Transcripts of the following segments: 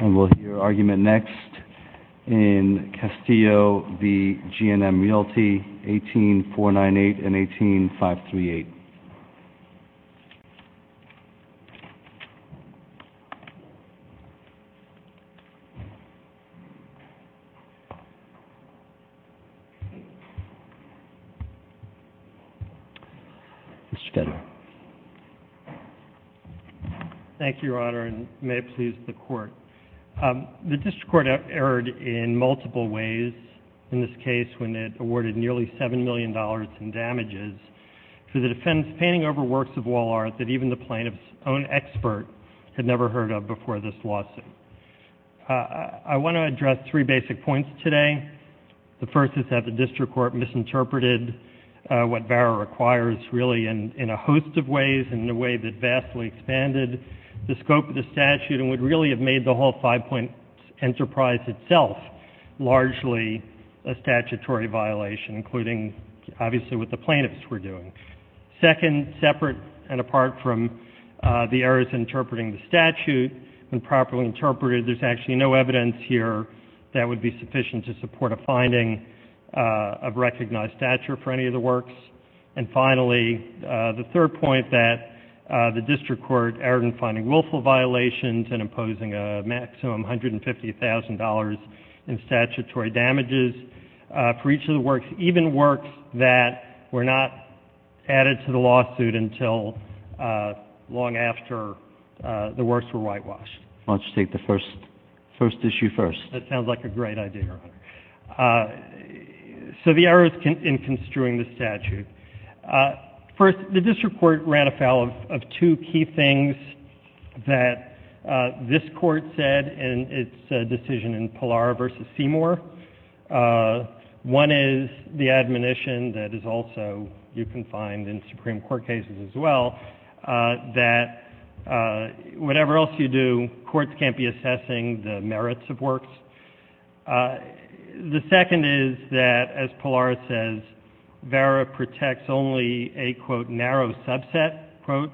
And we'll hear argument next in Castillo v. G&M Realty, 18-498 and 18-538. Mr. Ketterer. Thank you, Your Honor, and may it please the Court, The District Court erred in multiple ways in this case when it awarded nearly $7 million in damages for the defense painting over works of wall art that even the plaintiff's own expert had never heard of before this lawsuit. I want to address three basic points today. The first is that the District Court misinterpreted what VARA requires really in a host of ways in a way that vastly expanded the scope of the statute and would really have made the whole five-point enterprise itself largely a statutory violation, including, obviously, what the plaintiffs were doing. Second, separate and apart from the errors in interpreting the statute and properly interpreted, there's actually no evidence here that would be sufficient to support a finding of recognized stature for any of the works. And finally, the third point, that the District Court erred in finding willful violations and imposing a maximum $150,000 in statutory damages for each of the works, even works that were not added to the lawsuit until long after the works were whitewashed. Why don't you take the first issue first? So the errors in construing the statute. First, the District Court ran afoul of two key things that this Court said in its decision in Pallar v. Seymour. One is the admonition that is also, you can find in Supreme Court cases as well, that whatever else you do, courts can't be assessing the merits of works. The second is that, as Pallar says, Vera protects only a, quote, narrow subset, quote,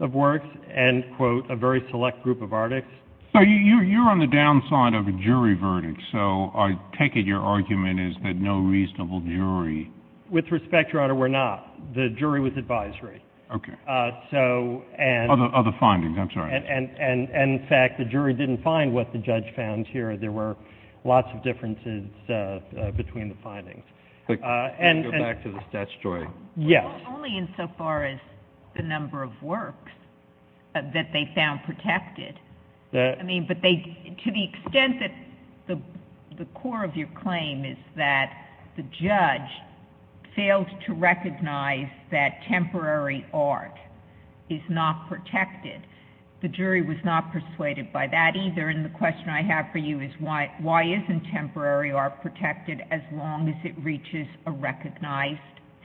of works and, quote, a very select group of artics. So you're on the downside of a jury verdict. So I take it your argument is that no reasonable jury — With respect, Your Honor, we're not. The jury was advisory. Okay. So — Other findings. I'm sorry. And, in fact, the jury didn't find what the judge found here. There were lots of differences between the findings. Go back to the statutory. Yes. Well, only insofar as the number of works that they found protected. I mean, but they — to the extent that the core of your claim is that the judge failed to recognize that temporary art is not protected, the jury was not persuaded by that either. And the question I have for you is why isn't temporary art protected as long as it reaches a recognized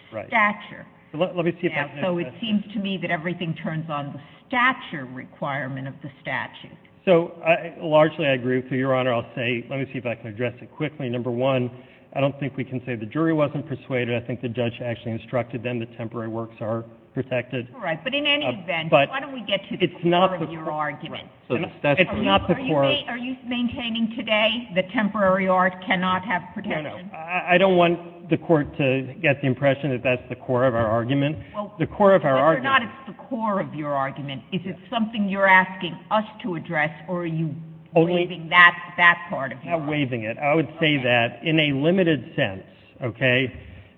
stature? Right. Let me see if I can address — So it seems to me that everything turns on the stature requirement of the statute. So, largely, I agree with you, Your Honor. I'll say — let me see if I can address it quickly. Number one, I don't think we can say the jury wasn't persuaded. I think the judge actually instructed them that temporary works are protected. All right. But in any event, why don't we get to the core of your argument? It's not the core — Are you maintaining today that temporary art cannot have protection? No, no. I don't want the Court to get the impression that that's the core of our argument. Well — The core of our argument — Whether or not it's the core of your argument, is it something you're asking us to address, or are you waiving that part of your argument? I'm not waiving it. I would say that, in a limited sense, okay,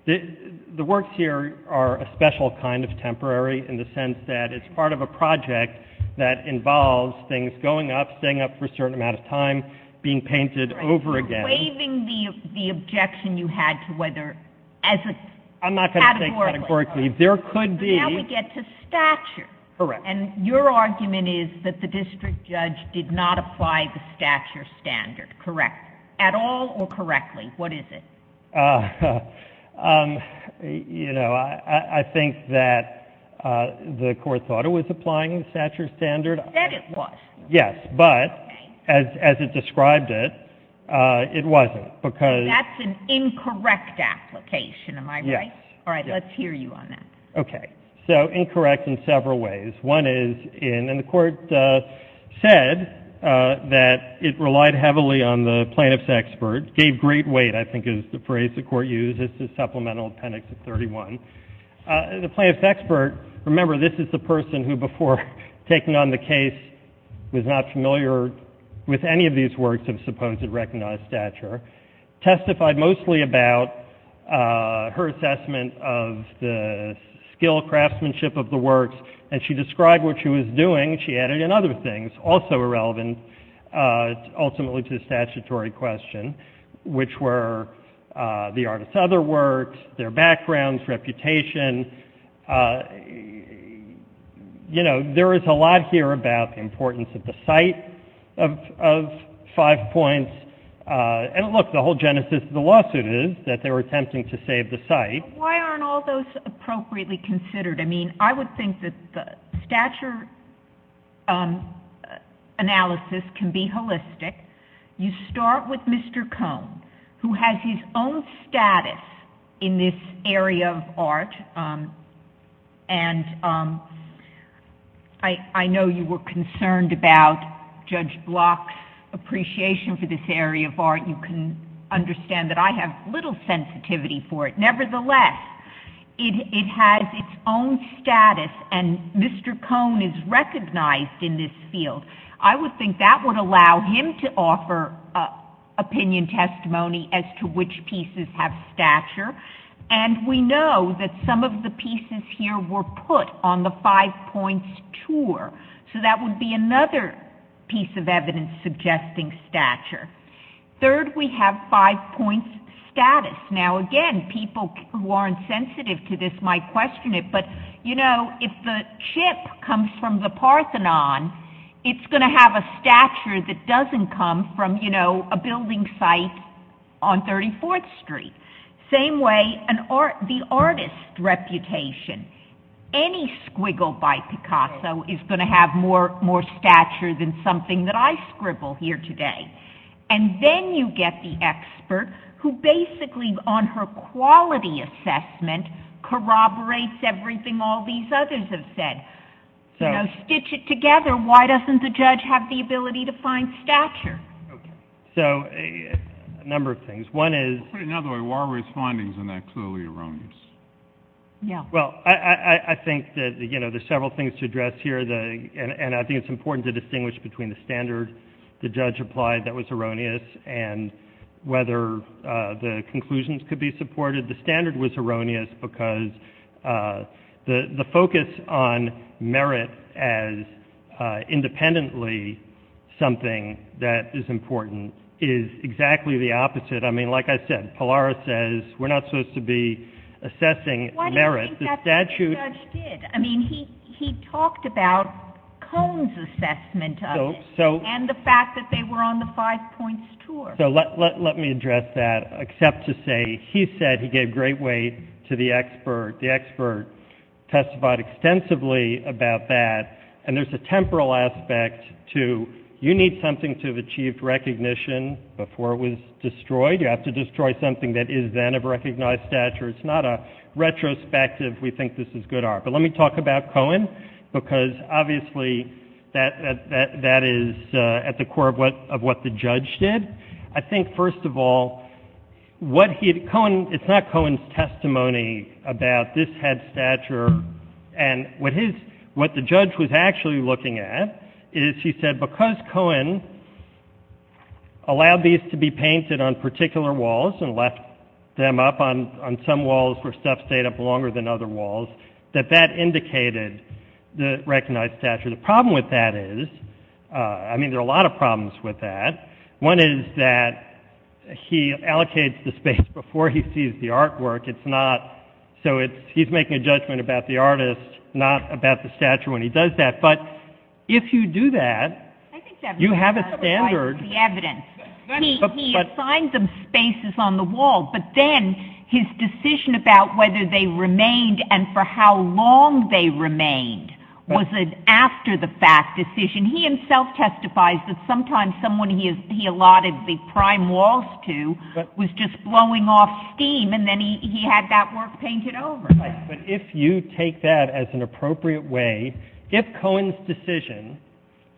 the works here are a special kind of temporary in the sense that it's part of a project that involves things going up, staying up for a certain amount of time, being painted over again. You're waiving the objection you had to whether, as a — I'm not going to say categorically. Categorically. There could be — So now we get to stature. Correct. And your argument is that the district judge did not apply the stature standard, correct, at all or correctly? What is it? You know, I think that the Court thought it was applying the stature standard. It said it was. Yes, but as it described it, it wasn't, because — That's an incorrect application, am I right? Yes. All right, let's hear you on that. Okay. So incorrect in several ways. One is in — and the Court said that it relied heavily on the plaintiff's expert. Gave great weight, I think, is the phrase the Court used. This is Supplemental Appendix 31. The plaintiff's expert — remember, this is the person who, before taking on the case, was not familiar with any of these works of supposed recognized stature — And she described what she was doing. She added in other things, also irrelevant ultimately to the statutory question, which were the artist's other works, their backgrounds, reputation. You know, there is a lot here about the importance of the site of five points. And look, the whole genesis of the lawsuit is that they were attempting to save the site. Why aren't all those appropriately considered? I mean, I would think that the stature analysis can be holistic. You start with Mr. Cohn, who has his own status in this area of art. And I know you were concerned about Judge Block's appreciation for this area of art. You can understand that I have little sensitivity for it. Nevertheless, it has its own status, and Mr. Cohn is recognized in this field. I would think that would allow him to offer opinion testimony as to which pieces have stature. And we know that some of the pieces here were put on the five points tour. So that would be another piece of evidence suggesting stature. Third, we have five points status. Now, again, people who aren't sensitive to this might question it, but, you know, if the chip comes from the Parthenon, it's going to have a stature that doesn't come from, you know, a building site on 34th Street. Same way, the artist's reputation. Any squiggle by Picasso is going to have more stature than something that I scribble here today. And then you get the expert who basically, on her quality assessment, corroborates everything all these others have said. You know, stitch it together, why doesn't the judge have the ability to find stature? So a number of things. Put it another way, why were his findings in that clearly erroneous? Well, I think that, you know, there's several things to address here, and I think it's important to distinguish between the standard the judge applied that was erroneous and whether the conclusions could be supported. The standard was erroneous because the focus on merit as independently something that is important is exactly the opposite. I mean, like I said, Pallara says we're not supposed to be assessing merit. I think that's what the judge did. I mean, he talked about Cone's assessment of it and the fact that they were on the five points tour. So let me address that, except to say he said he gave great weight to the expert. The expert testified extensively about that. And there's a temporal aspect to you need something to have achieved recognition before it was destroyed. You have to destroy something that is then of recognized stature. It's not a retrospective we think this is good art. But let me talk about Cone, because obviously that is at the core of what the judge did. I think, first of all, what he had ‑‑ it's not Cone's testimony about this had stature, and what the judge was actually looking at is he said because Cone allowed these to be painted on particular walls and left them up on some walls where stuff stayed up longer than other walls, that that indicated the recognized stature. The problem with that is, I mean, there are a lot of problems with that. One is that he allocates the space before he sees the artwork. It's not ‑‑ so he's making a judgment about the artist, not about the stature when he does that. But if you do that, you have a standard. He assigned them spaces on the wall, but then his decision about whether they remained and for how long they remained was an after‑the‑fact decision. He himself testifies that sometimes someone he allotted the prime walls to was just blowing off steam, and then he had that work painted over. But if you take that as an appropriate way, if Cone's decision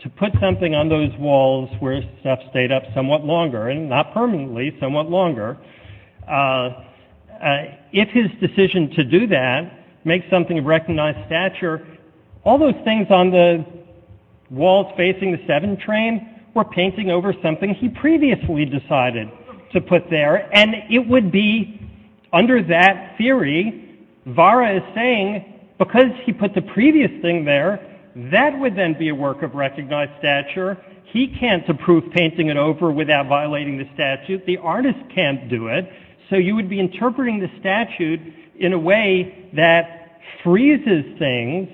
to put something on those walls where stuff stayed up somewhat longer, and not permanently, somewhat longer, if his decision to do that, make something of recognized stature, all those things on the walls facing the 7 train were painting over something he previously decided to put there, and it would be under that theory, Vara is saying because he put the previous thing there, that would then be a work of recognized stature. He can't approve painting it over without violating the statute. The artist can't do it. So you would be interpreting the statute in a way that freezes things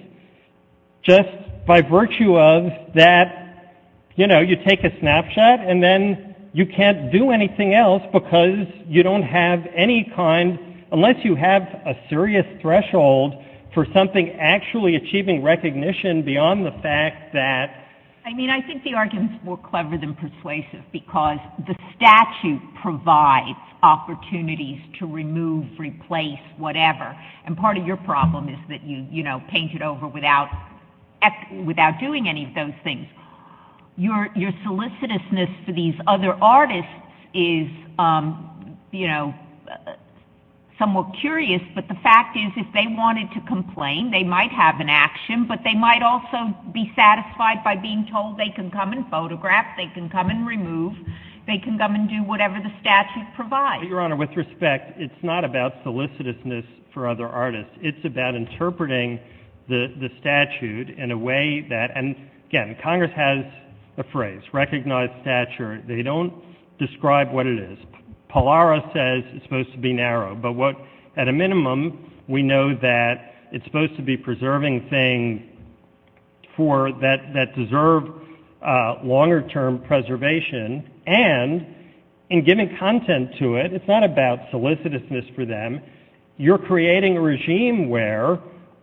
just by virtue of that, you know, you take a snapshot, and then you can't do anything else because you don't have any kind, unless you have a serious threshold for something actually achieving recognition beyond the fact that. I mean, I think the argument is more clever than persuasive because the statute provides opportunities to remove, replace, whatever, and part of your problem is that you, you know, paint it over without doing any of those things. Your solicitousness for these other artists is, you know, somewhat curious, but the fact is if they wanted to complain, they might have an action, but they might also be satisfied by being told they can come and photograph, they can come and remove, they can come and do whatever the statute provides. Your Honor, with respect, it's not about solicitousness for other artists. It's about interpreting the statute in a way that, and again, Congress has a phrase, recognize stature. They don't describe what it is. Pallara says it's supposed to be narrow, but what, at a minimum, we know that it's supposed to be preserving things for, that deserve longer-term preservation, and in giving content to it, it's not about solicitousness for them. And you're creating a regime where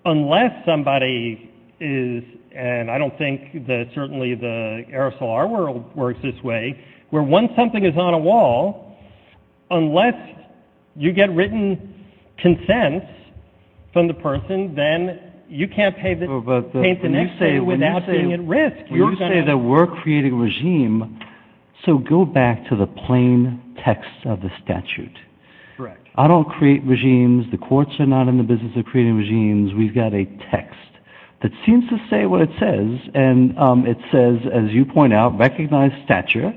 unless somebody is, and I don't think that certainly the aerosol art world works this way, where once something is on a wall, unless you get written consent from the person, then you can't paint the next thing without being at risk. When you say that we're creating a regime, so go back to the plain text of the statute. Correct. I don't create regimes. The courts are not in the business of creating regimes. We've got a text that seems to say what it says, and it says, as you point out, recognize stature.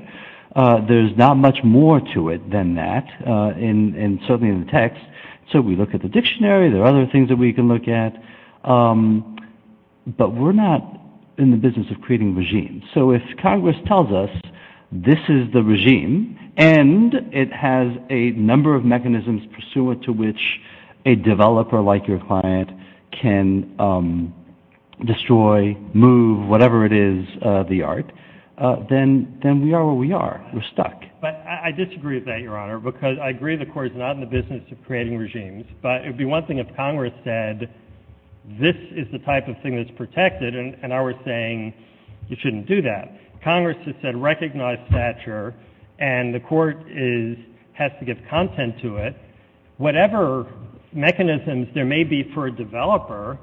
There's not much more to it than that, and certainly in the text. So we look at the dictionary. There are other things that we can look at, but we're not in the business of creating regimes. So if Congress tells us this is the regime, and it has a number of mechanisms pursuant to which a developer like your client can destroy, move, whatever it is, the art, then we are where we are. We're stuck. But I disagree with that, Your Honor, because I agree the court is not in the business of creating regimes, but it would be one thing if Congress said this is the type of thing that's protected, and I was saying you shouldn't do that. Congress has said recognize stature, and the court has to give content to it. Whatever mechanisms there may be for a developer,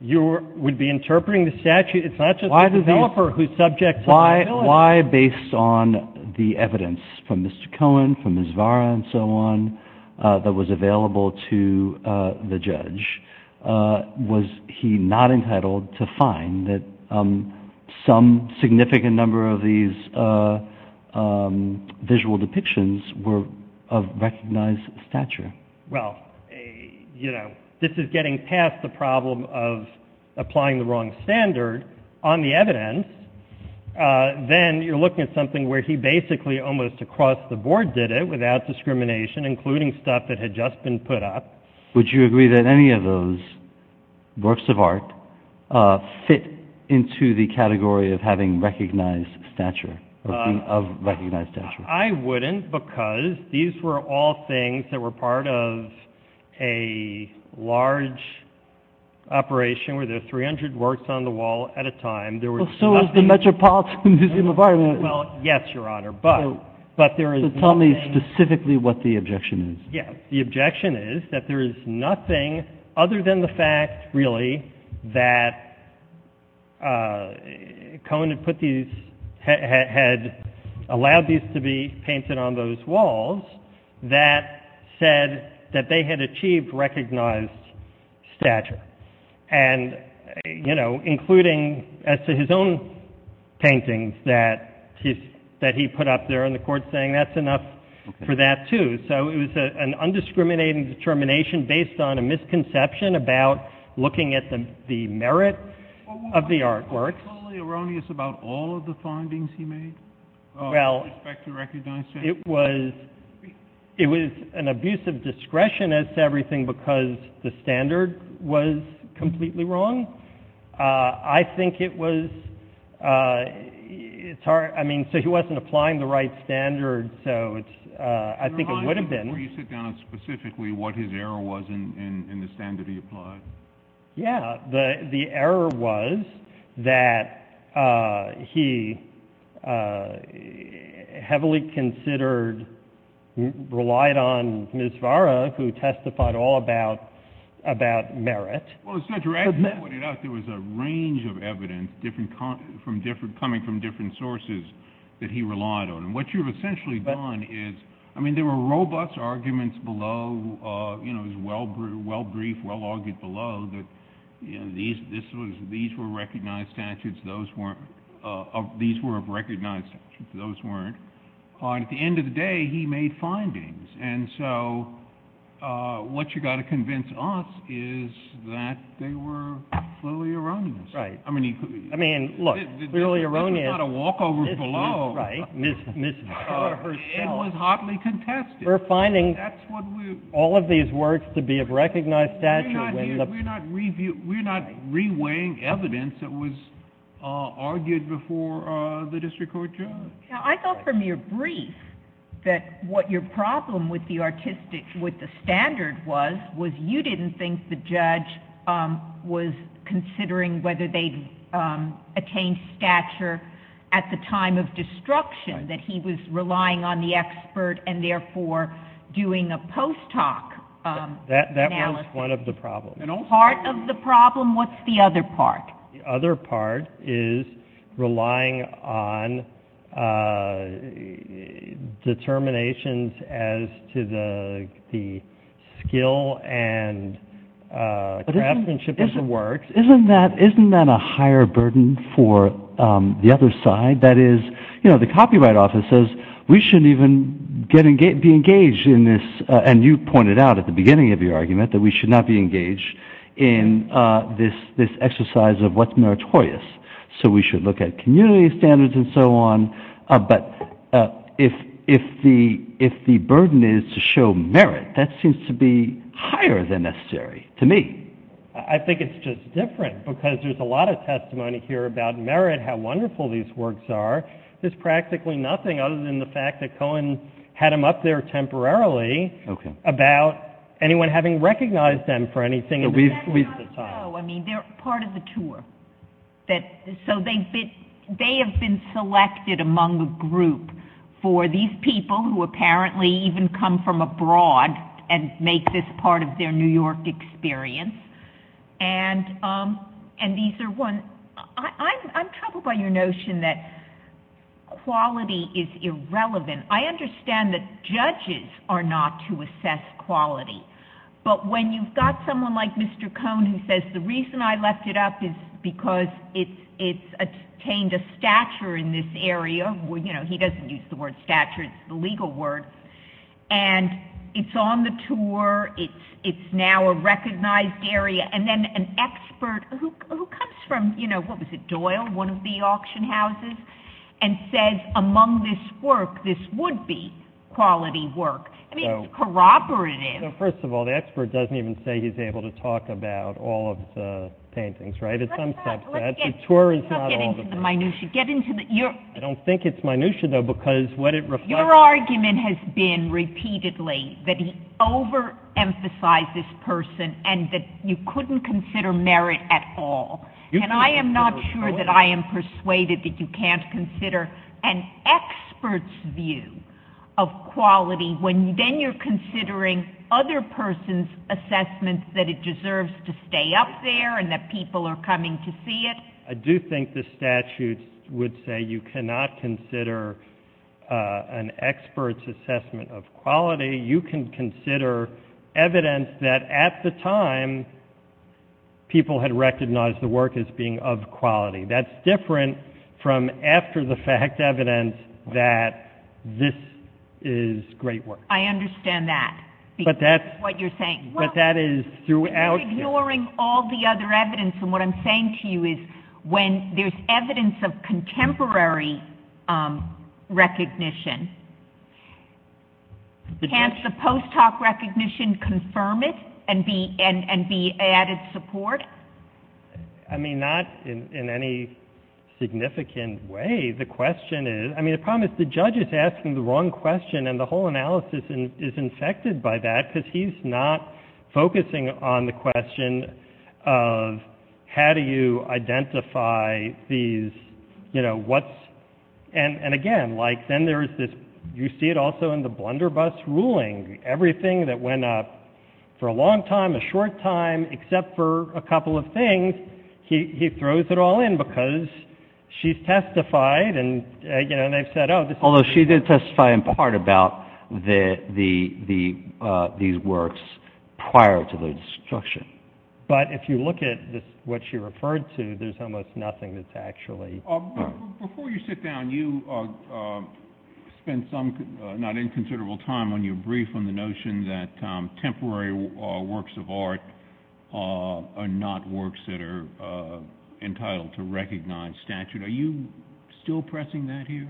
you would be interpreting the statute. It's not just the developer who's subject to the ability. Why, based on the evidence from Mr. Cohen, from Ms. Vara, and so on, that was available to the judge, was he not entitled to find that some significant number of these visual depictions were of recognized stature? Well, you know, this is getting past the problem of applying the wrong standard on the evidence. Then you're looking at something where he basically almost across the board did it without discrimination, including stuff that had just been put up. Would you agree that any of those works of art fit into the category of having recognized stature, of recognized stature? I wouldn't, because these were all things that were part of a large operation where there were 300 works on the wall at a time. Well, so was the Metropolitan Museum of Art. Well, yes, Your Honor. So tell me specifically what the objection is. Yes, the objection is that there is nothing other than the fact, really, that Cohen had allowed these to be painted on those walls that said that they had achieved recognized stature. And, you know, including as to his own paintings that he put up there, and the court's saying that's enough for that, too. So it was an undiscriminating determination based on a misconception about looking at the merit of the artwork. Wasn't it totally erroneous about all of the findings he made with respect to recognized stature? Well, it was an abuse of discretion as to everything because the standard was completely wrong. I think it was, I mean, so he wasn't applying the right standard, so I think it would have been. Can you remind me, before you sit down, specifically what his error was in the standard he applied? Yeah, the error was that he heavily considered, relied on Ms. Vara, who testified all about merit. Well, as Judge Ragsdale pointed out, there was a range of evidence coming from different sources that he relied on. And what you've essentially done is, I mean, there were robust arguments below, you know, it was well-briefed, well-argued below that these were recognized statutes, those weren't, these were recognized statutes, those weren't. And at the end of the day, he made findings. And so what you've got to convince us is that they were fully erroneous. Right. I mean, look, clearly erroneous. This is not a walkover below Ms. Vara herself. It was hotly contested. We're finding all of these works to be of recognized statute. We're not re-weighing evidence that was argued before the district court judge. Now, I thought from your brief that what your problem with the artistic, with the standard was, was you didn't think the judge was considering whether they attained stature at the time of destruction, that he was relying on the expert and therefore doing a post-talk analysis. That was one of the problems. Part of the problem, what's the other part? The other part is relying on determinations as to the skill and craftsmanship of the works. Isn't that a higher burden for the other side? That is, you know, the Copyright Office says we shouldn't even be engaged in this, and you pointed out at the beginning of your argument that we should not be engaged in this exercise of what's meritorious. So we should look at community standards and so on. But if the burden is to show merit, that seems to be higher than necessary to me. I think it's just different because there's a lot of testimony here about merit, how wonderful these works are. There's practically nothing other than the fact that Cohen had them up there temporarily, about anyone having recognized them for anything at the time. I don't know. I mean, they're part of the tour. So they have been selected among the group for these people who apparently even come from abroad and make this part of their New York experience. I'm troubled by your notion that quality is irrelevant. I understand that judges are not to assess quality, but when you've got someone like Mr. Cohen who says the reason I left it up is because it's attained a stature in this area, you know, he doesn't use the word stature, it's the legal word, and it's on the tour, it's now a recognized area, and then an expert who comes from, you know, what was it, Doyle, one of the auction houses, and says among this work, this would be quality work. I mean, it's corroborative. So first of all, the expert doesn't even say he's able to talk about all of the paintings, right? At some steps, that. The tour is not all of them. Let's not get into the minutia. I don't think it's minutia, though, because what it reflects— Your argument has been repeatedly that he overemphasized this person and that you couldn't consider merit at all, and I am not sure that I am persuaded that you can't consider an expert's view of quality when then you're considering other person's assessments that it deserves to stay up there and that people are coming to see it. I do think the statute would say you cannot consider an expert's assessment of quality. You can consider evidence that at the time people had recognized the work as being of quality. That's different from after-the-fact evidence that this is great work. I understand that, because that's what you're saying. But that is throughout— I'm ignoring all the other evidence, and what I'm saying to you is when there's evidence of contemporary recognition, can't the post hoc recognition confirm it and be added support? I mean, not in any significant way. The question is—I mean, the problem is the judge is asking the wrong question, and the whole analysis is infected by that because he's not focusing on the question of how do you identify these, you know, what's— and again, like, then there's this—you see it also in the Blunderbuss ruling. Everything that went up for a long time, a short time, except for a couple of things, he throws it all in because she's testified, and, you know, they've said, oh, this is— it's about these works prior to their destruction. But if you look at what she referred to, there's almost nothing that's actually— Before you sit down, you spent some not inconsiderable time when you briefed on the notion that temporary works of art are not works that are entitled to recognized statute. Are you still pressing that here?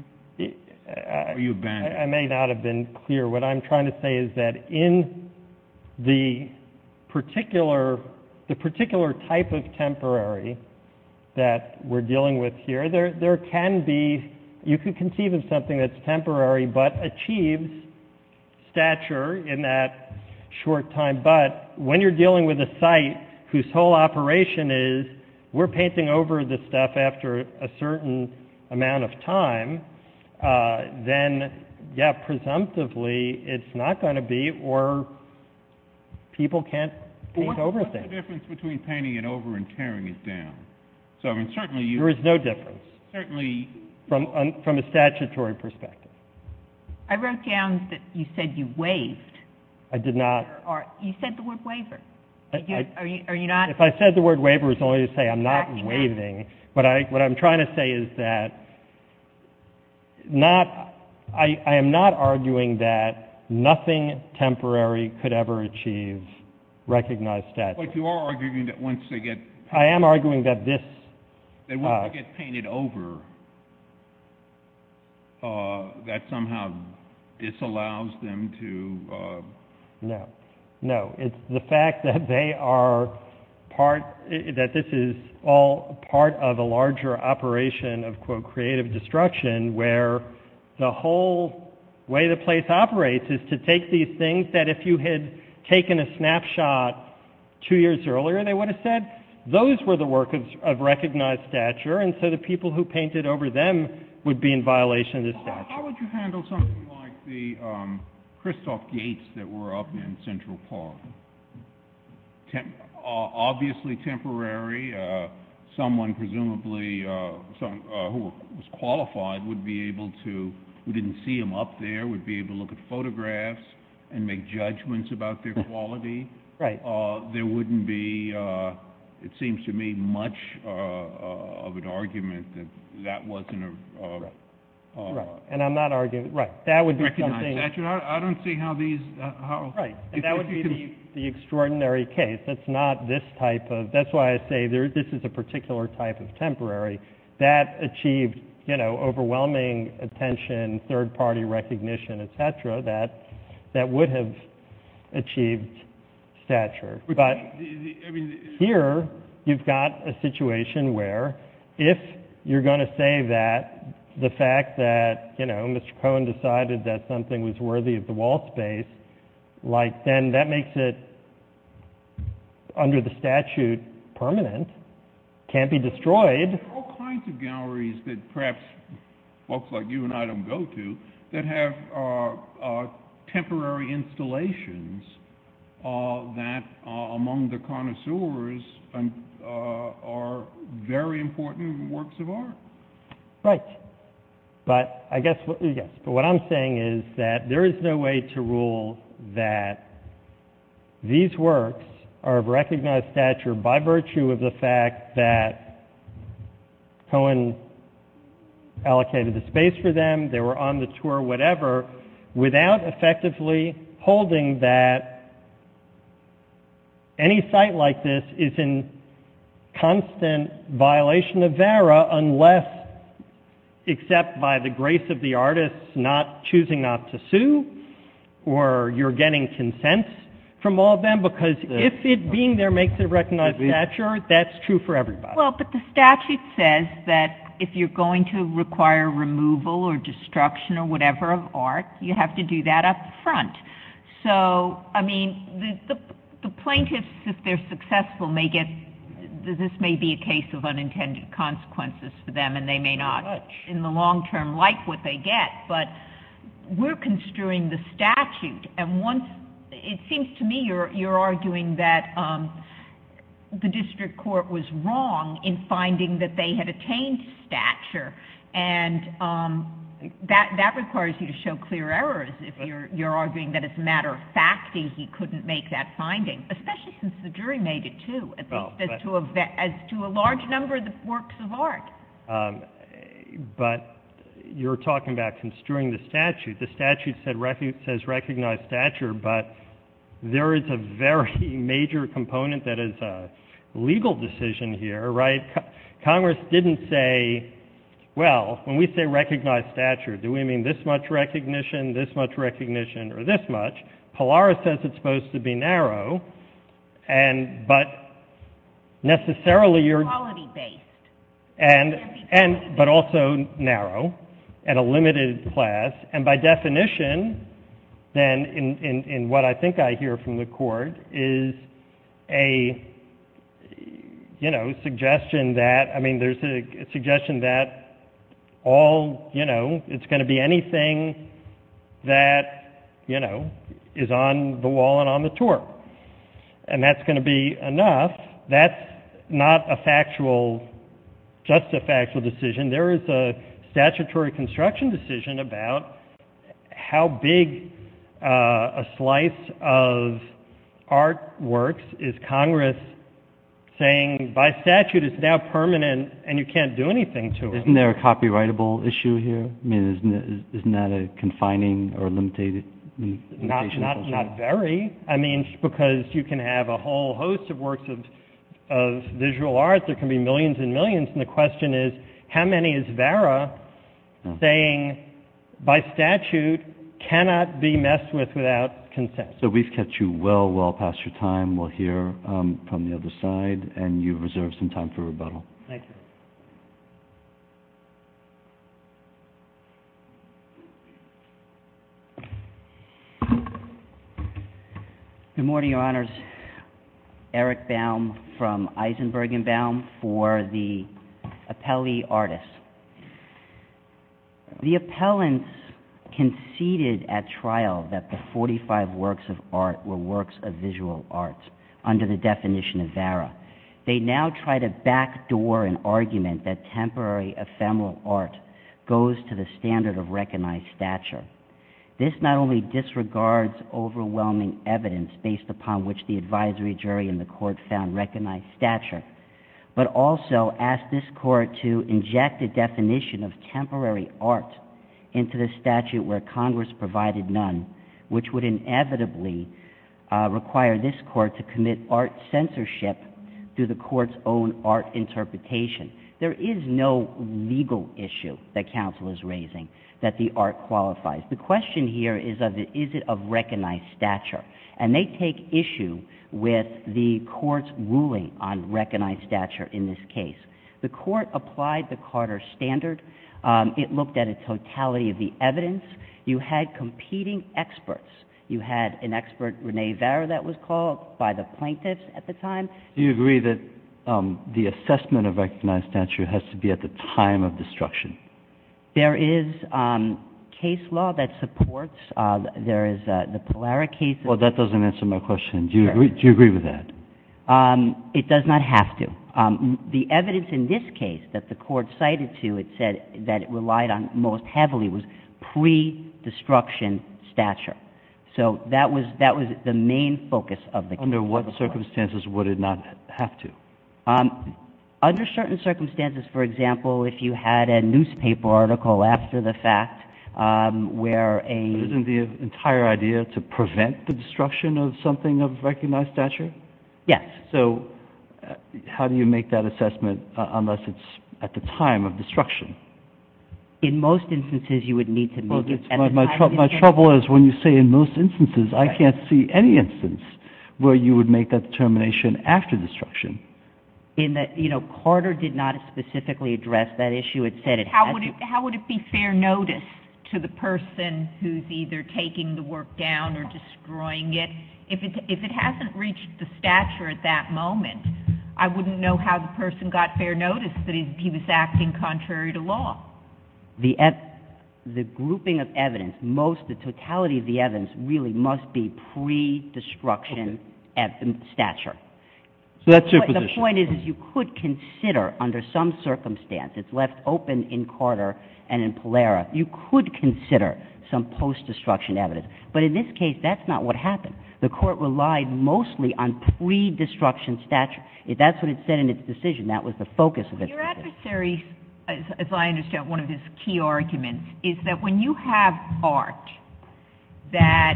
I may not have been clear. What I'm trying to say is that in the particular type of temporary that we're dealing with here, there can be—you can conceive of something that's temporary but achieves stature in that short time. But when you're dealing with a site whose whole operation is we're painting over the stuff after a certain amount of time, then, yeah, presumptively it's not going to be, or people can't paint over things. What's the difference between painting it over and tearing it down? There is no difference from a statutory perspective. I wrote down that you said you waived. I did not. You said the word waiver. If I said the word waiver, it's only to say I'm not waiving. What I'm trying to say is that I am not arguing that nothing temporary could ever achieve recognized statute. But you are arguing that once they get— I am arguing that this— Once they get painted over, that somehow disallows them to— No, no. It's the fact that they are part—that this is all part of a larger operation of, quote, creative destruction where the whole way the place operates is to take these things that if you had taken a snapshot two years earlier, they would have said, those were the work of recognized stature, and so the people who painted over them would be in violation of the statute. How would you handle something like the Christoph Gates that were up in Central Park? Obviously temporary. Someone presumably who was qualified would be able to— who didn't see them up there would be able to look at photographs and make judgments about their quality. There wouldn't be, it seems to me, much of an argument that that wasn't a— Right. And I'm not arguing—right. That would be something— Recognized stature. I don't see how these— Right. And that would be the extraordinary case. That's not this type of—that's why I say this is a particular type of temporary. That achieved, you know, overwhelming attention, third-party recognition, et cetera, that would have achieved stature. But here you've got a situation where if you're going to say that the fact that, you know, Mr. Cohen decided that something was worthy of the wall space, like then that makes it under the statute permanent, can't be destroyed. There are all kinds of galleries that perhaps folks like you and I don't go to that have temporary installations that among the connoisseurs are very important works of art. Right. But I guess—yes. But what I'm saying is that there is no way to rule that these works are of recognized stature by virtue of the fact that Cohen allocated the space for them, they were on the tour, whatever, without effectively holding that any site like this is in constant violation of VERA unless, except by the grace of the artist, not choosing not to sue, or you're getting consent from all of them because if it being there makes it recognized stature, that's true for everybody. Well, but the statute says that if you're going to require removal or destruction or whatever of art, you have to do that up front. So, I mean, the plaintiffs, if they're successful, may get—this may be a case of unintended consequences for them and they may not in the long term like what they get. But we're construing the statute and once—it seems to me you're arguing that the district court was wrong in finding that they had attained stature and that requires you to show clear errors if you're arguing that as a matter of fact he couldn't make that finding, especially since the jury made it, too, as to a large number of the works of art. But you're talking about construing the statute. The statute says recognize stature, but there is a very major component that is a legal decision here, right? Congress didn't say, well, when we say recognize stature, do we mean this much recognition, this much recognition, or this much? Pallara says it's supposed to be narrow, but necessarily you're— but also narrow and a limited class. And by definition, then, in what I think I hear from the court, is a suggestion that— I mean, there's a suggestion that all—it's going to be anything that is on the wall and on the tour. And that's going to be enough. That's not a factual—just a factual decision. There is a statutory construction decision about how big a slice of art works is Congress saying, by statute, it's now permanent and you can't do anything to it. Isn't there a copyrightable issue here? I mean, isn't that a confining or limited— Not very. I mean, because you can have a whole host of works of visual art. There can be millions and millions. And the question is, how many is Vera saying, by statute, cannot be messed with without consent? So we've kept you well, well past your time. We'll hear from the other side. Thank you. Good morning, Your Honors. Eric Baum from Eisenberg & Baum for the appellee artists. The appellants conceded at trial that the 45 works of art were works of visual art under the definition of Vera. They now try to backdoor an argument that temporary ephemeral art goes to the standard of recognized stature. This not only disregards overwhelming evidence based upon which the advisory jury in the court found recognized stature, but also asked this court to inject a definition of temporary art into the statute where Congress provided none, which would inevitably require this court to commit art censorship through the court's own art interpretation. There is no legal issue that counsel is raising that the art qualifies. The question here is, is it of recognized stature? And they take issue with the court's ruling on recognized stature in this case. The court applied the Carter standard. It looked at a totality of the evidence. You had competing experts. You had an expert, Rene Vara, that was called by the plaintiffs at the time. Do you agree that the assessment of recognized stature has to be at the time of destruction? There is case law that supports. There is the Polaro case. Well, that doesn't answer my question. Do you agree with that? It does not have to. The evidence in this case that the court cited to it said that it relied on most heavily was pre-destruction stature. So that was the main focus of the case. Under what circumstances would it not have to? Under certain circumstances. For example, if you had a newspaper article after the fact where a — Isn't the entire idea to prevent the destruction of something of recognized stature? Yes. So how do you make that assessment unless it's at the time of destruction? My trouble is when you say in most instances, I can't see any instance where you would make that determination after destruction. In that, you know, Carter did not specifically address that issue. How would it be fair notice to the person who's either taking the work down or destroying it? If it hasn't reached the stature at that moment, I wouldn't know how the person got fair notice that he was acting contrary to law. The grouping of evidence, most, the totality of the evidence really must be pre-destruction stature. So that's your position. The point is you could consider under some circumstance. It's left open in Carter and in Pallera. You could consider some post-destruction evidence. But in this case, that's not what happened. The court relied mostly on pre-destruction stature. That was the focus of its decision. Your adversary, as I understand, one of his key arguments is that when you have art that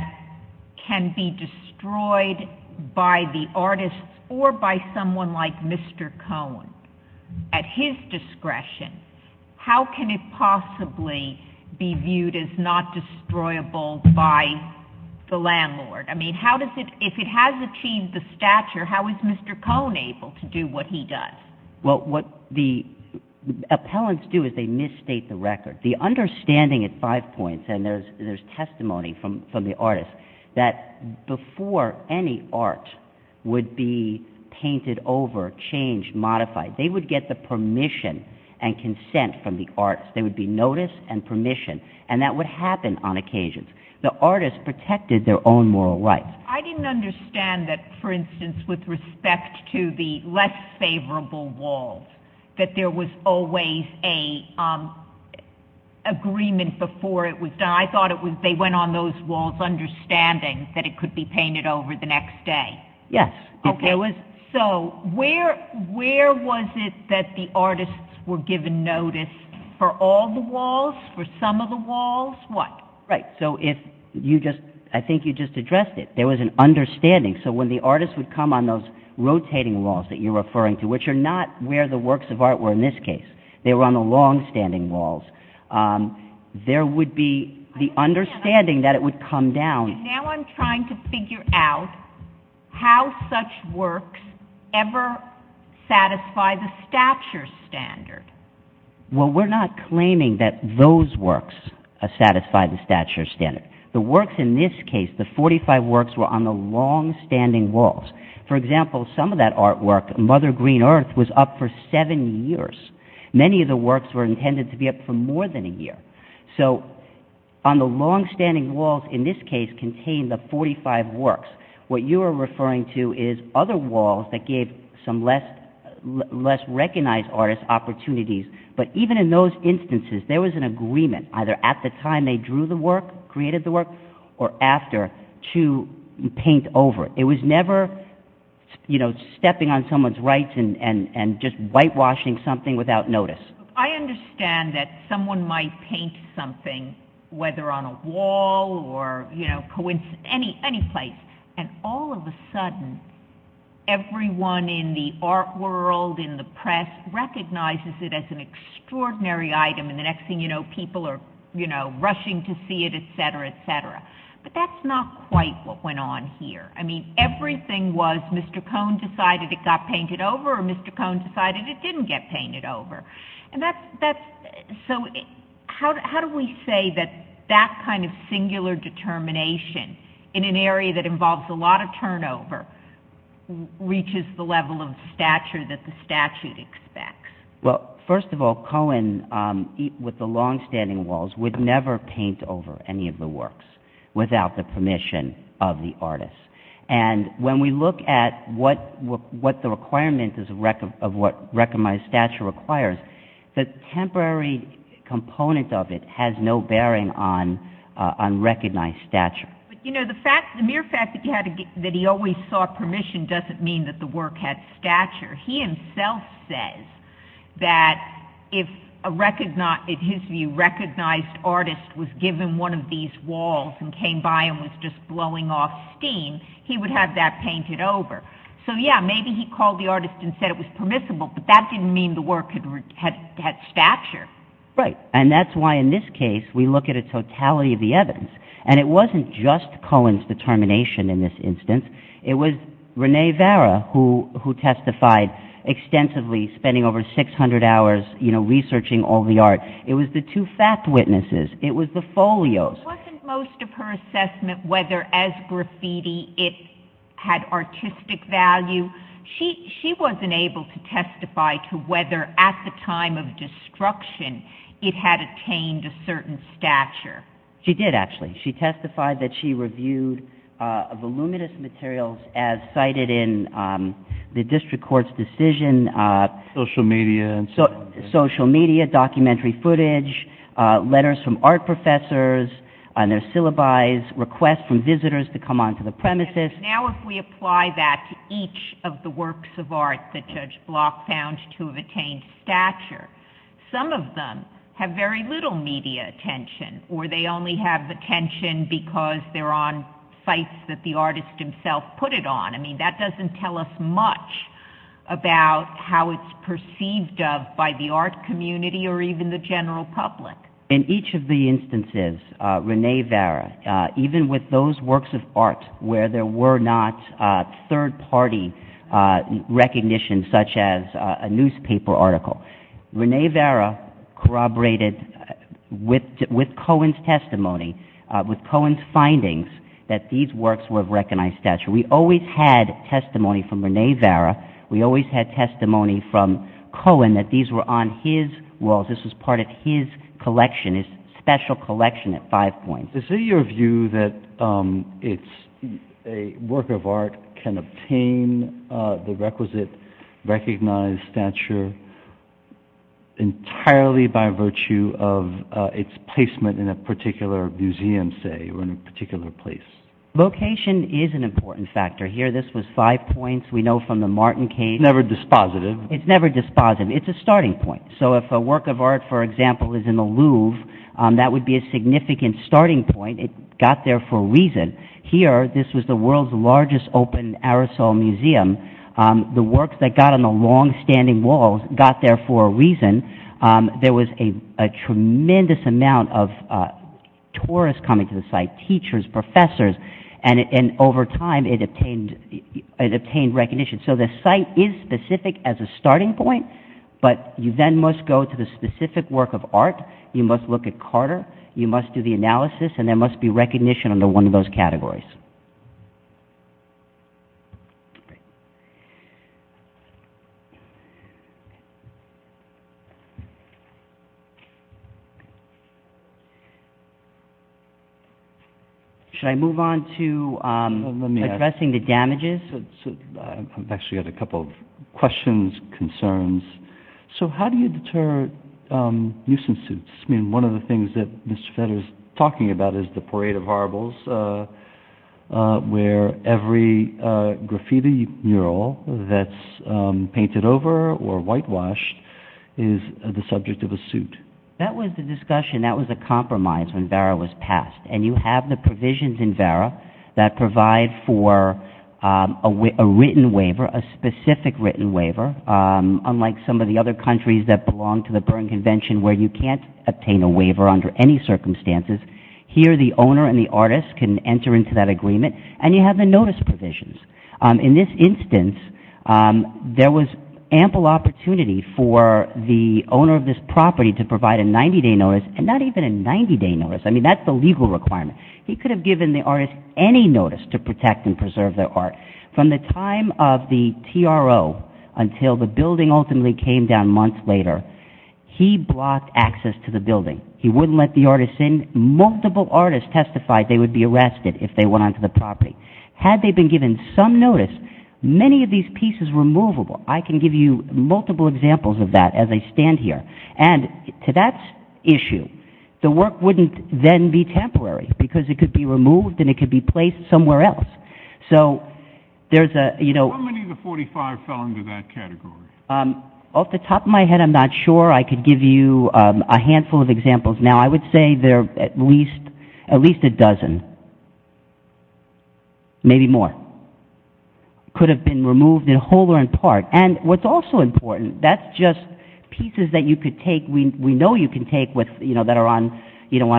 can be destroyed by the artist or by someone like Mr. Cohen, at his discretion, how can it possibly be viewed as not destroyable by the landlord? I mean, how does it, if it has achieved the stature, how is Mr. Cohen able to do what he does? Well, what the appellants do is they misstate the record. The understanding at five points, and there's testimony from the artist, that before any art would be painted over, changed, modified, they would get the permission and consent from the artist. There would be notice and permission, and that would happen on occasion. The artist protected their own moral rights. I didn't understand that, for instance, with respect to the less favorable walls, that there was always an agreement before it was done. I thought they went on those walls understanding that it could be painted over the next day. Yes. Okay. So where was it that the artists were given notice for all the walls, for some of the walls? What? Right. So if you just, I think you just addressed it, there was an understanding. So when the artist would come on those rotating walls that you're referring to, which are not where the works of art were in this case, they were on the long-standing walls, there would be the understanding that it would come down. Now I'm trying to figure out how such works ever satisfy the stature standard. Well, we're not claiming that those works satisfy the stature standard. The works in this case, the 45 works, were on the long-standing walls. For example, some of that artwork, Mother Green Earth, was up for seven years. Many of the works were intended to be up for more than a year. So on the long-standing walls in this case contained the 45 works. What you are referring to is other walls that gave some less recognized artists opportunities. But even in those instances, there was an agreement, either at the time they drew the work, created the work, or after to paint over. It was never stepping on someone's rights and just whitewashing something without notice. I understand that someone might paint something, whether on a wall or any place, and all of a sudden, everyone in the art world, in the press, recognizes it as an extraordinary item, and the next thing you know, people are rushing to see it, etc., etc. But that's not quite what went on here. I mean, everything was Mr. Cohen decided it got painted over, or Mr. Cohen decided it didn't get painted over. So how do we say that that kind of singular determination in an area that involves a lot of turnover reaches the level of stature that the statute expects? Well, first of all, Cohen, with the long-standing walls, would never paint over any of the works without the permission of the artist. And when we look at what the requirement of what recognized stature requires, the temporary component of it has no bearing on recognized stature. You know, the mere fact that he always sought permission doesn't mean that the work had stature. He himself says that if, in his view, a recognized artist was given one of these walls and came by and was just blowing off steam, he would have that painted over. So yeah, maybe he called the artist and said it was permissible, but that didn't mean the work had stature. Right, and that's why in this case, we look at a totality of the evidence. And it wasn't just Cohen's determination in this instance. It was Renee Vara who testified extensively, spending over 600 hours researching all the art. It was the two fact witnesses. It was the folios. Wasn't most of her assessment whether, as graffiti, it had artistic value? She wasn't able to testify to whether, at the time of destruction, it had attained a certain stature. She did, actually. She testified that she reviewed voluminous materials as cited in the district court's decision. Social media and so on. Social media, documentary footage, letters from art professors and their syllabi, requests from visitors to come onto the premises. Now if we apply that to each of the works of art that Judge Block found to have attained stature, some of them have very little media attention, or they only have attention because they're on sites that the artist himself put it on. I mean, that doesn't tell us much about how it's perceived of by the art community or even the general public. In each of the instances, Renee Vara, even with those works of art where there were not third-party recognition, such as a newspaper article, Renee Vara corroborated with Cohen's testimony, with Cohen's findings, that these works were of recognized stature. We always had testimony from Renee Vara. We always had testimony from Cohen that these were on his walls. This was part of his collection, his special collection at Five Points. Is it your view that a work of art can obtain the requisite recognized stature entirely by virtue of its placement in a particular museum, say, or in a particular place? Location is an important factor. Here, this was Five Points. We know from the Martin case. It's never dispositive. It's never dispositive. It's a starting point. So if a work of art, for example, is in the Louvre, that would be a significant starting point. It got there for a reason. Here, this was the world's largest open aerosol museum. The works that got on the long standing walls got there for a reason. There was a tremendous amount of tourists coming to the site, teachers, professors, and over time it obtained recognition. So the site is specific as a starting point, but you then must go to the specific work of art. You must look at Carter. You must do the analysis, and there must be recognition under one of those categories. Should I move on to addressing the damages? I've actually got a couple of questions, concerns. So how do you deter nuisance suits? I mean, one of the things that Mr. Federer is talking about is the Parade of Horribles, where every graffiti mural that's painted over or whitewashed is the subject of a suit. That was the discussion. That was a compromise when Vera was passed, and you have the provisions in Vera that provide for a written waiver, a specific written waiver, unlike some of the other countries that belong to the Berne Convention where you can't obtain a waiver under any circumstances. Here, the owner and the artist can enter into that agreement, and you have the notice provisions. In this instance, there was ample opportunity for the owner of this property to provide a 90-day notice, and not even a 90-day notice. I mean, that's the legal requirement. He could have given the artist any notice to protect and preserve their art. From the time of the TRO until the building ultimately came down months later, he blocked access to the building. He wouldn't let the artist in. Multiple artists testified they would be arrested if they went onto the property. Had they been given some notice, many of these pieces were movable. I can give you multiple examples of that as I stand here. To that issue, the work wouldn't then be temporary because it could be removed and it could be placed somewhere else. How many of the 45 fell into that category? Off the top of my head, I'm not sure. I could give you a handful of examples. Now, I would say there are at least a dozen, maybe more, could have been removed in whole or in part. And what's also important, that's just pieces that we know you can take that are on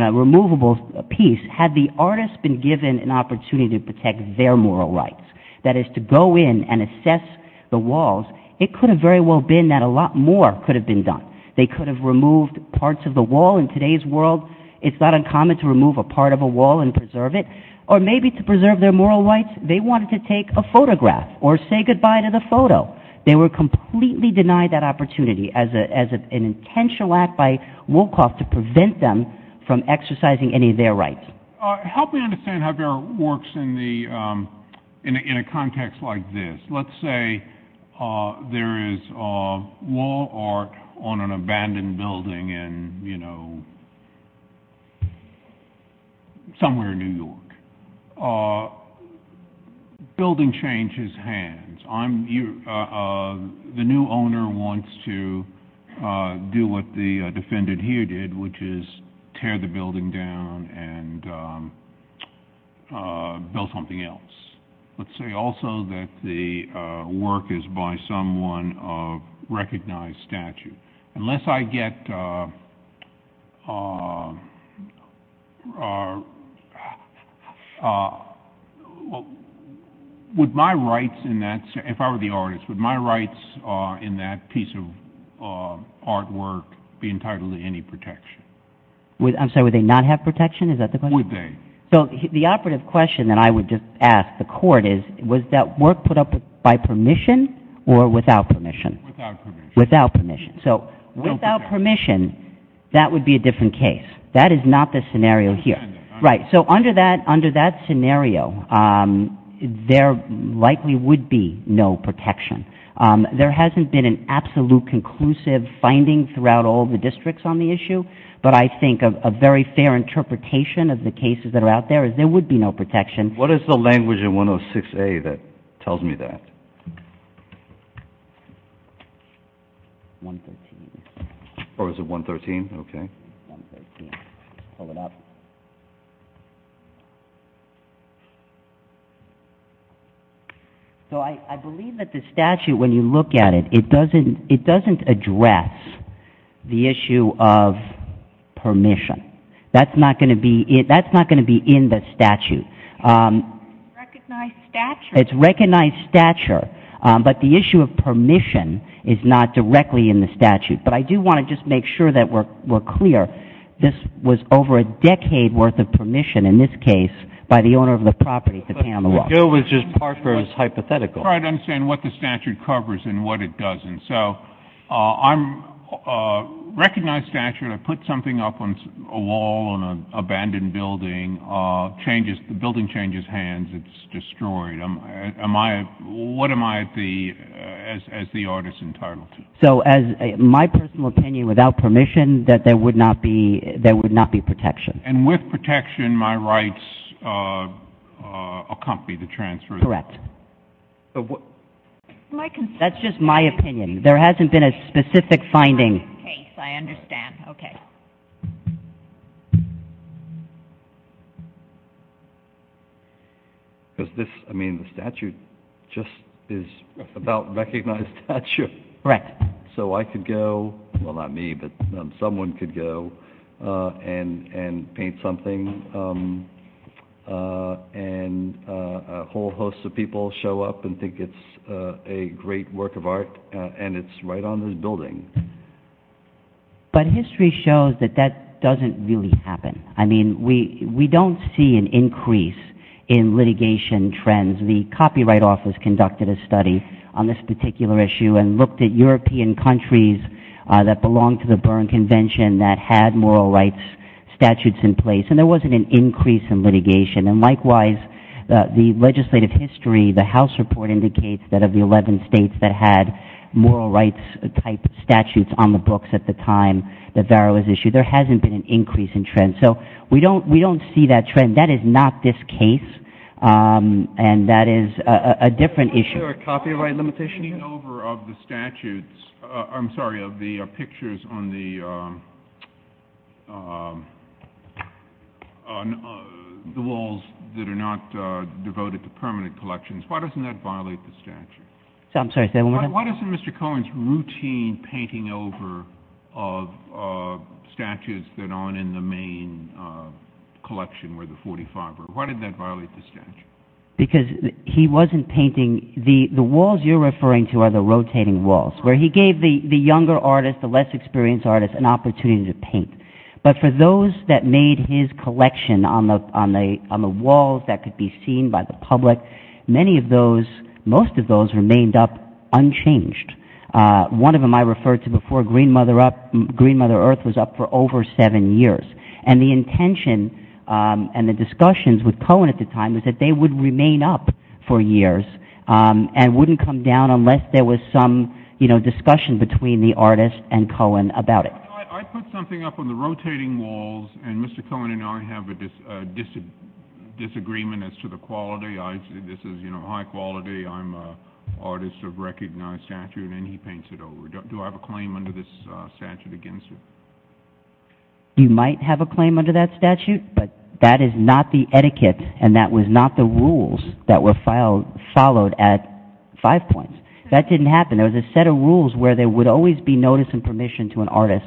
a removable piece. Had the artist been given an opportunity to protect their moral rights, that is to go in and assess the walls, it could have very well been that a lot more could have been done. They could have removed parts of the wall. In today's world, it's not uncommon to remove a part of a wall and preserve it. Or maybe to preserve their moral rights, they wanted to take a photograph or say goodbye to the photo. They were completely denied that opportunity as an intentional act by Wolkoff to prevent them from exercising any of their rights. Help me understand how that works in a context like this. Let's say there is wall art on an abandoned building in, you know, somewhere in New York. Building changes hands. The new owner wants to do what the defendant here did, which is tear the building down and build something else. Let's say also that the work is by someone of recognized statute. Unless I get, would my rights in that, if I were the artist, would my rights in that piece of artwork be entitled to any protection? I'm sorry, would they not have protection? Is that the question? Would they? So the operative question that I would just ask the court is, was that work put up by permission or without permission? Without permission. Without permission. So without permission, that would be a different case. That is not the scenario here. Right. So under that scenario, there likely would be no protection. There hasn't been an absolute conclusive finding throughout all the districts on the issue. But I think a very fair interpretation of the cases that are out there is there would be no protection. What is the language in 106A that tells me that? 113. Or is it 113? Okay. 113. Pull it up. So I believe that the statute, when you look at it, it doesn't address the issue of permission. That's not going to be in the statute. Recognized stature. It's recognized stature. But the issue of permission is not directly in the statute. But I do want to just make sure that we're clear. This was over a decade worth of permission, in this case, by the owner of the property to pay on the law. The bill was just part of his hypothetical. I'm trying to understand what the statute covers and what it doesn't. So I recognize stature. I put something up on a wall in an abandoned building. The building changes hands. It's destroyed. What am I, as the artist, entitled to? So my personal opinion, without permission, that there would not be protection. And with protection, my rights accompany the transfer. Correct. That's just my opinion. There hasn't been a specific finding. I understand. Okay. Because this, I mean, the statute just is about recognized stature. Correct. So I could go, well, not me, but someone could go and paint something, and a whole host of people show up and think it's a great work of art, and it's right on this building. But history shows that that doesn't really happen. I mean, we don't see an increase in litigation trends. The Copyright Office conducted a study on this particular issue and looked at European countries that belonged to the Berne Convention that had moral rights statutes in place. And there wasn't an increase in litigation. And likewise, the legislative history, the House report indicates that of the 11 states that had moral rights-type statutes on the books at the time that VARO was issued, there hasn't been an increase in trends. So we don't see that trend. That is not this case, and that is a different issue. Is there a copyright limitation? Why isn't painting over of the statutes, I'm sorry, of the pictures on the walls that are not devoted to permanent collections, why doesn't that violate the statute? I'm sorry, say that one more time. Why doesn't Mr. Cohen's routine painting over of statues that aren't in the main collection, where the 45 are, why didn't that violate the statute? Because he wasn't painting, the walls you're referring to are the rotating walls, where he gave the younger artists, the less experienced artists, an opportunity to paint. But for those that made his collection on the walls that could be seen by the public, many of those, most of those remained unchanged. One of them I referred to before, Green Mother Earth, was up for over seven years. And the intention and the discussions with Cohen at the time was that they would remain up for years and wouldn't come down unless there was some discussion between the artist and Cohen about it. I put something up on the rotating walls, and Mr. Cohen and I have a disagreement as to the quality. This is high quality. I'm an artist of recognized stature, and then he paints it over. Do I have a claim under this statute against you? You might have a claim under that statute, but that is not the etiquette and that was not the rules that were followed at Five Points. That didn't happen. There was a set of rules where there would always be notice and permission to an artist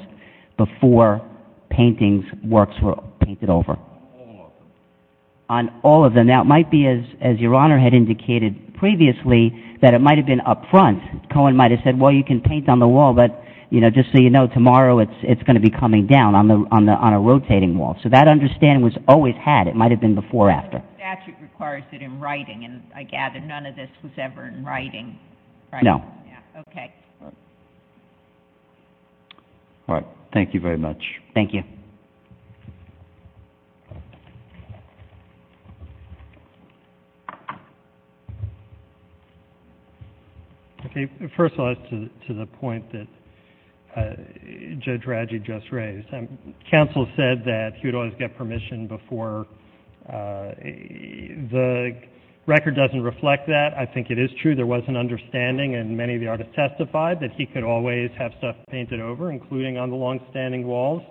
before paintings, works were painted over. On all of them. On all of them. Now, it might be, as Your Honor had indicated previously, that it might have been up front. Cohen might have said, well, you can paint on the wall, but just so you know, tomorrow it's going to be coming down on a rotating wall. So that understanding was always had. It might have been before or after. The statute requires it in writing, and I gather none of this was ever in writing. No. Okay. All right. Thank you very much. Thank you. First of all, to the point that Judge Radji just raised, counsel said that he would always get permission before. The record doesn't reflect that. I think it is true. There was an understanding, and many of the artists testified, that he could always have stuff painted over, including on the longstanding walls.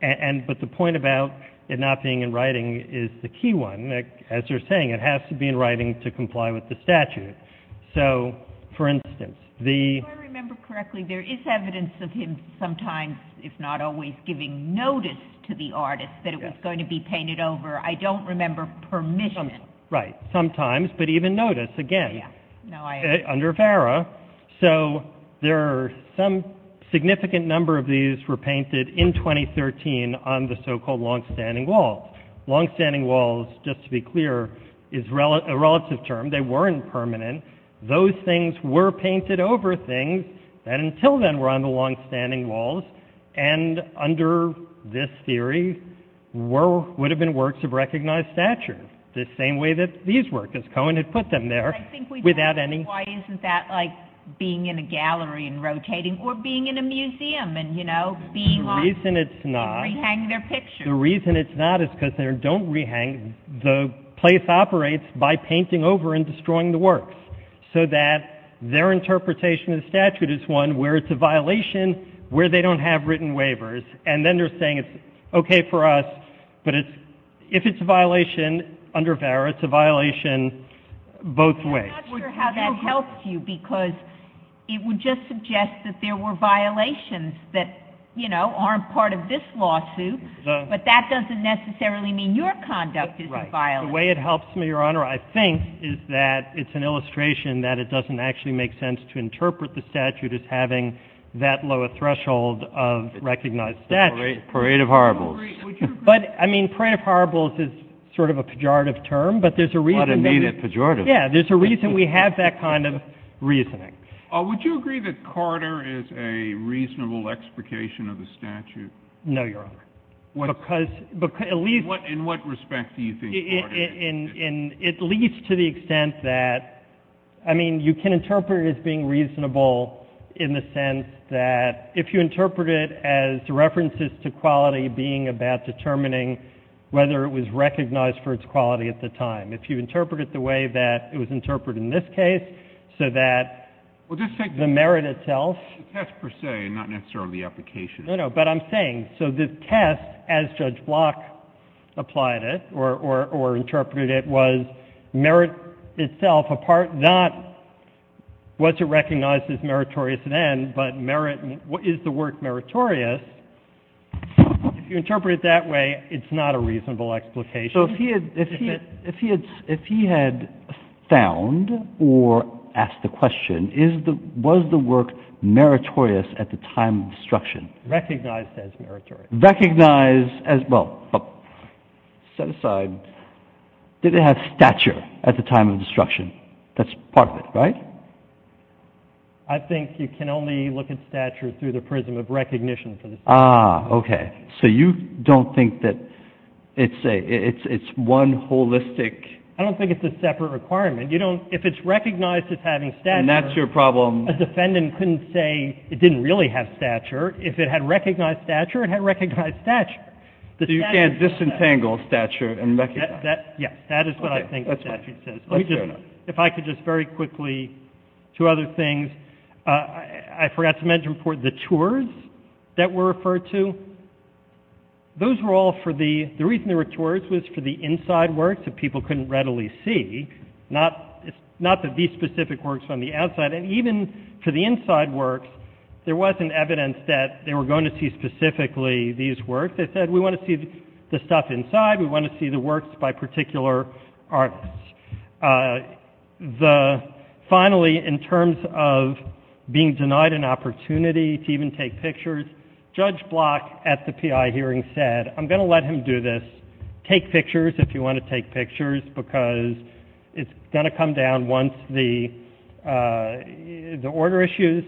But the point about it not being in writing is the key one. As you're saying, it has to be in writing to comply with the statute. So, for instance, the — If I remember correctly, there is evidence of him sometimes, if not always, giving notice to the artist that it was going to be painted over. I don't remember permission. Right. Sometimes. But even notice, again, under Vera. So there are some significant number of these were painted in 2013 on the so-called longstanding walls. Longstanding walls, just to be clear, is a relative term. They weren't permanent. Those things were painted over things that until then were on the longstanding walls, and under this theory would have been works of recognized stature, the same way that these were, because Cohen had put them there without any — Like being in a gallery and rotating, or being in a museum and, you know, being on — The reason it's not — Rehanging their pictures. The reason it's not is because they don't rehang. The place operates by painting over and destroying the works, so that their interpretation of the statute is one where it's a violation, where they don't have written waivers. And then they're saying it's okay for us, but if it's a violation under Vera, it's a violation both ways. I'm not sure how that helps you, because it would just suggest that there were violations that, you know, aren't part of this lawsuit, but that doesn't necessarily mean your conduct is a violation. Right. The way it helps me, Your Honor, I think, is that it's an illustration that it doesn't actually make sense to interpret the statute as having that low a threshold of recognized stature. Parade of horribles. But, I mean, parade of horribles is sort of a pejorative term, but there's a reason — What a needed pejorative. Yeah, there's a reason we have that kind of reasoning. Would you agree that Carter is a reasonable explication of the statute? No, Your Honor, because — In what respect do you think Carter is? It leads to the extent that, I mean, you can interpret it as being reasonable in the sense that if you interpret it as references to quality being about determining whether it was recognized for its quality at the time, if you interpret it the way that it was interpreted in this case, so that the merit itself — Well, just take the test per se and not necessarily the application. No, no, but I'm saying, so the test, as Judge Block applied it or interpreted it, was merit itself apart not what's recognized as meritorious then, but merit — is the work meritorious? If you interpret it that way, it's not a reasonable explication. So if he had found or asked the question, was the work meritorious at the time of destruction? Recognized as meritorious. Recognized as — well, set aside, did it have stature at the time of destruction? That's part of it, right? I think you can only look at stature through the prism of recognition for the statute. Ah, okay. So you don't think that it's one holistic — I don't think it's a separate requirement. You don't — if it's recognized as having stature — And that's your problem? A defendant couldn't say it didn't really have stature. If it had recognized stature, it had recognized stature. So you can't disentangle stature and recognize. Yes, that is what I think the statute says. Okay, that's fair enough. If I could just very quickly — two other things. I forgot to mention for the tours that were referred to. Those were all for the — the reason they were tours was for the inside works that people couldn't readily see. Not that these specific works on the outside. And even for the inside works, there wasn't evidence that they were going to see specifically these works. They said, we want to see the stuff inside. We want to see the works by particular artists. The — finally, in terms of being denied an opportunity to even take pictures, Judge Block at the P.I. hearing said, I'm going to let him do this. Take pictures if you want to take pictures because it's going to come down once the — the order issues.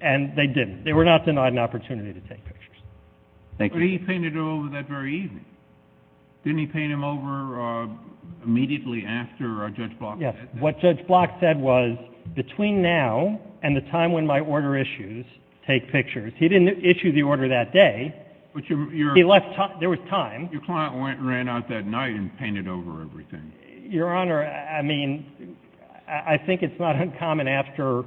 And they didn't. They were not denied an opportunity to take pictures. Thank you. But he painted over that very evening. Didn't he paint them over immediately after Judge Block said that? Yes. What Judge Block said was, between now and the time when my order issues, take pictures. He didn't issue the order that day. But your — He left — there was time. Your client went and ran out that night and painted over everything. Your Honor, I mean, I think it's not uncommon after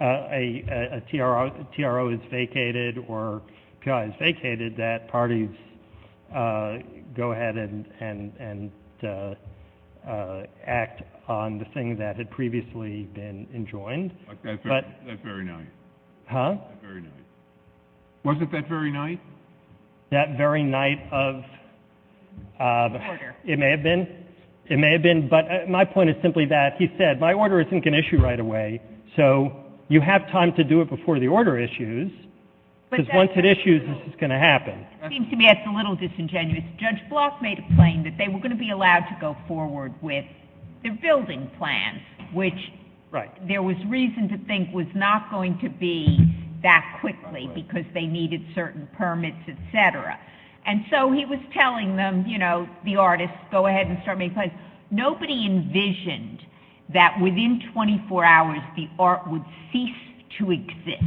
a T.R.O. is vacated or P.I. is vacated that parties go ahead and act on the thing that had previously been enjoined. But that very night. Huh? That very night. Wasn't that very night? That very night of — The order. It may have been. It may have been. But my point is simply that he said, my order isn't going to issue right away, so you have time to do it before the order issues, because once it issues, this is going to happen. It seems to me that's a little disingenuous. Judge Block made a claim that they were going to be allowed to go forward with their building plan, which there was reason to think was not going to be that quickly because they needed certain permits, et cetera. And so he was telling them, you know, the artists, go ahead and start making plans. Nobody envisioned that within 24 hours the art would cease to exist.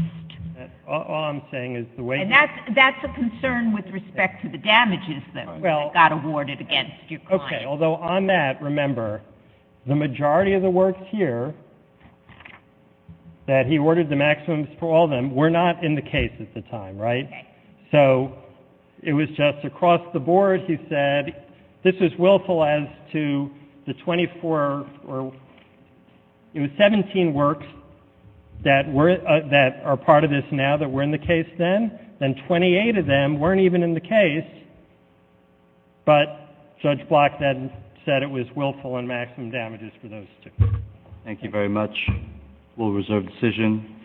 All I'm saying is the way — And that's a concern with respect to the damages that got awarded against your client. Okay. Although on that, remember, the majority of the works here that he ordered the maximums for all of them were not in the case at the time, right? Okay. So it was just across the board he said this was willful as to the 24 — it was 17 works that are part of this now that were in the case then, then 28 of them weren't even in the case, but Judge Block then said it was willful on maximum damages for those two. Thank you very much. We'll reserve decision.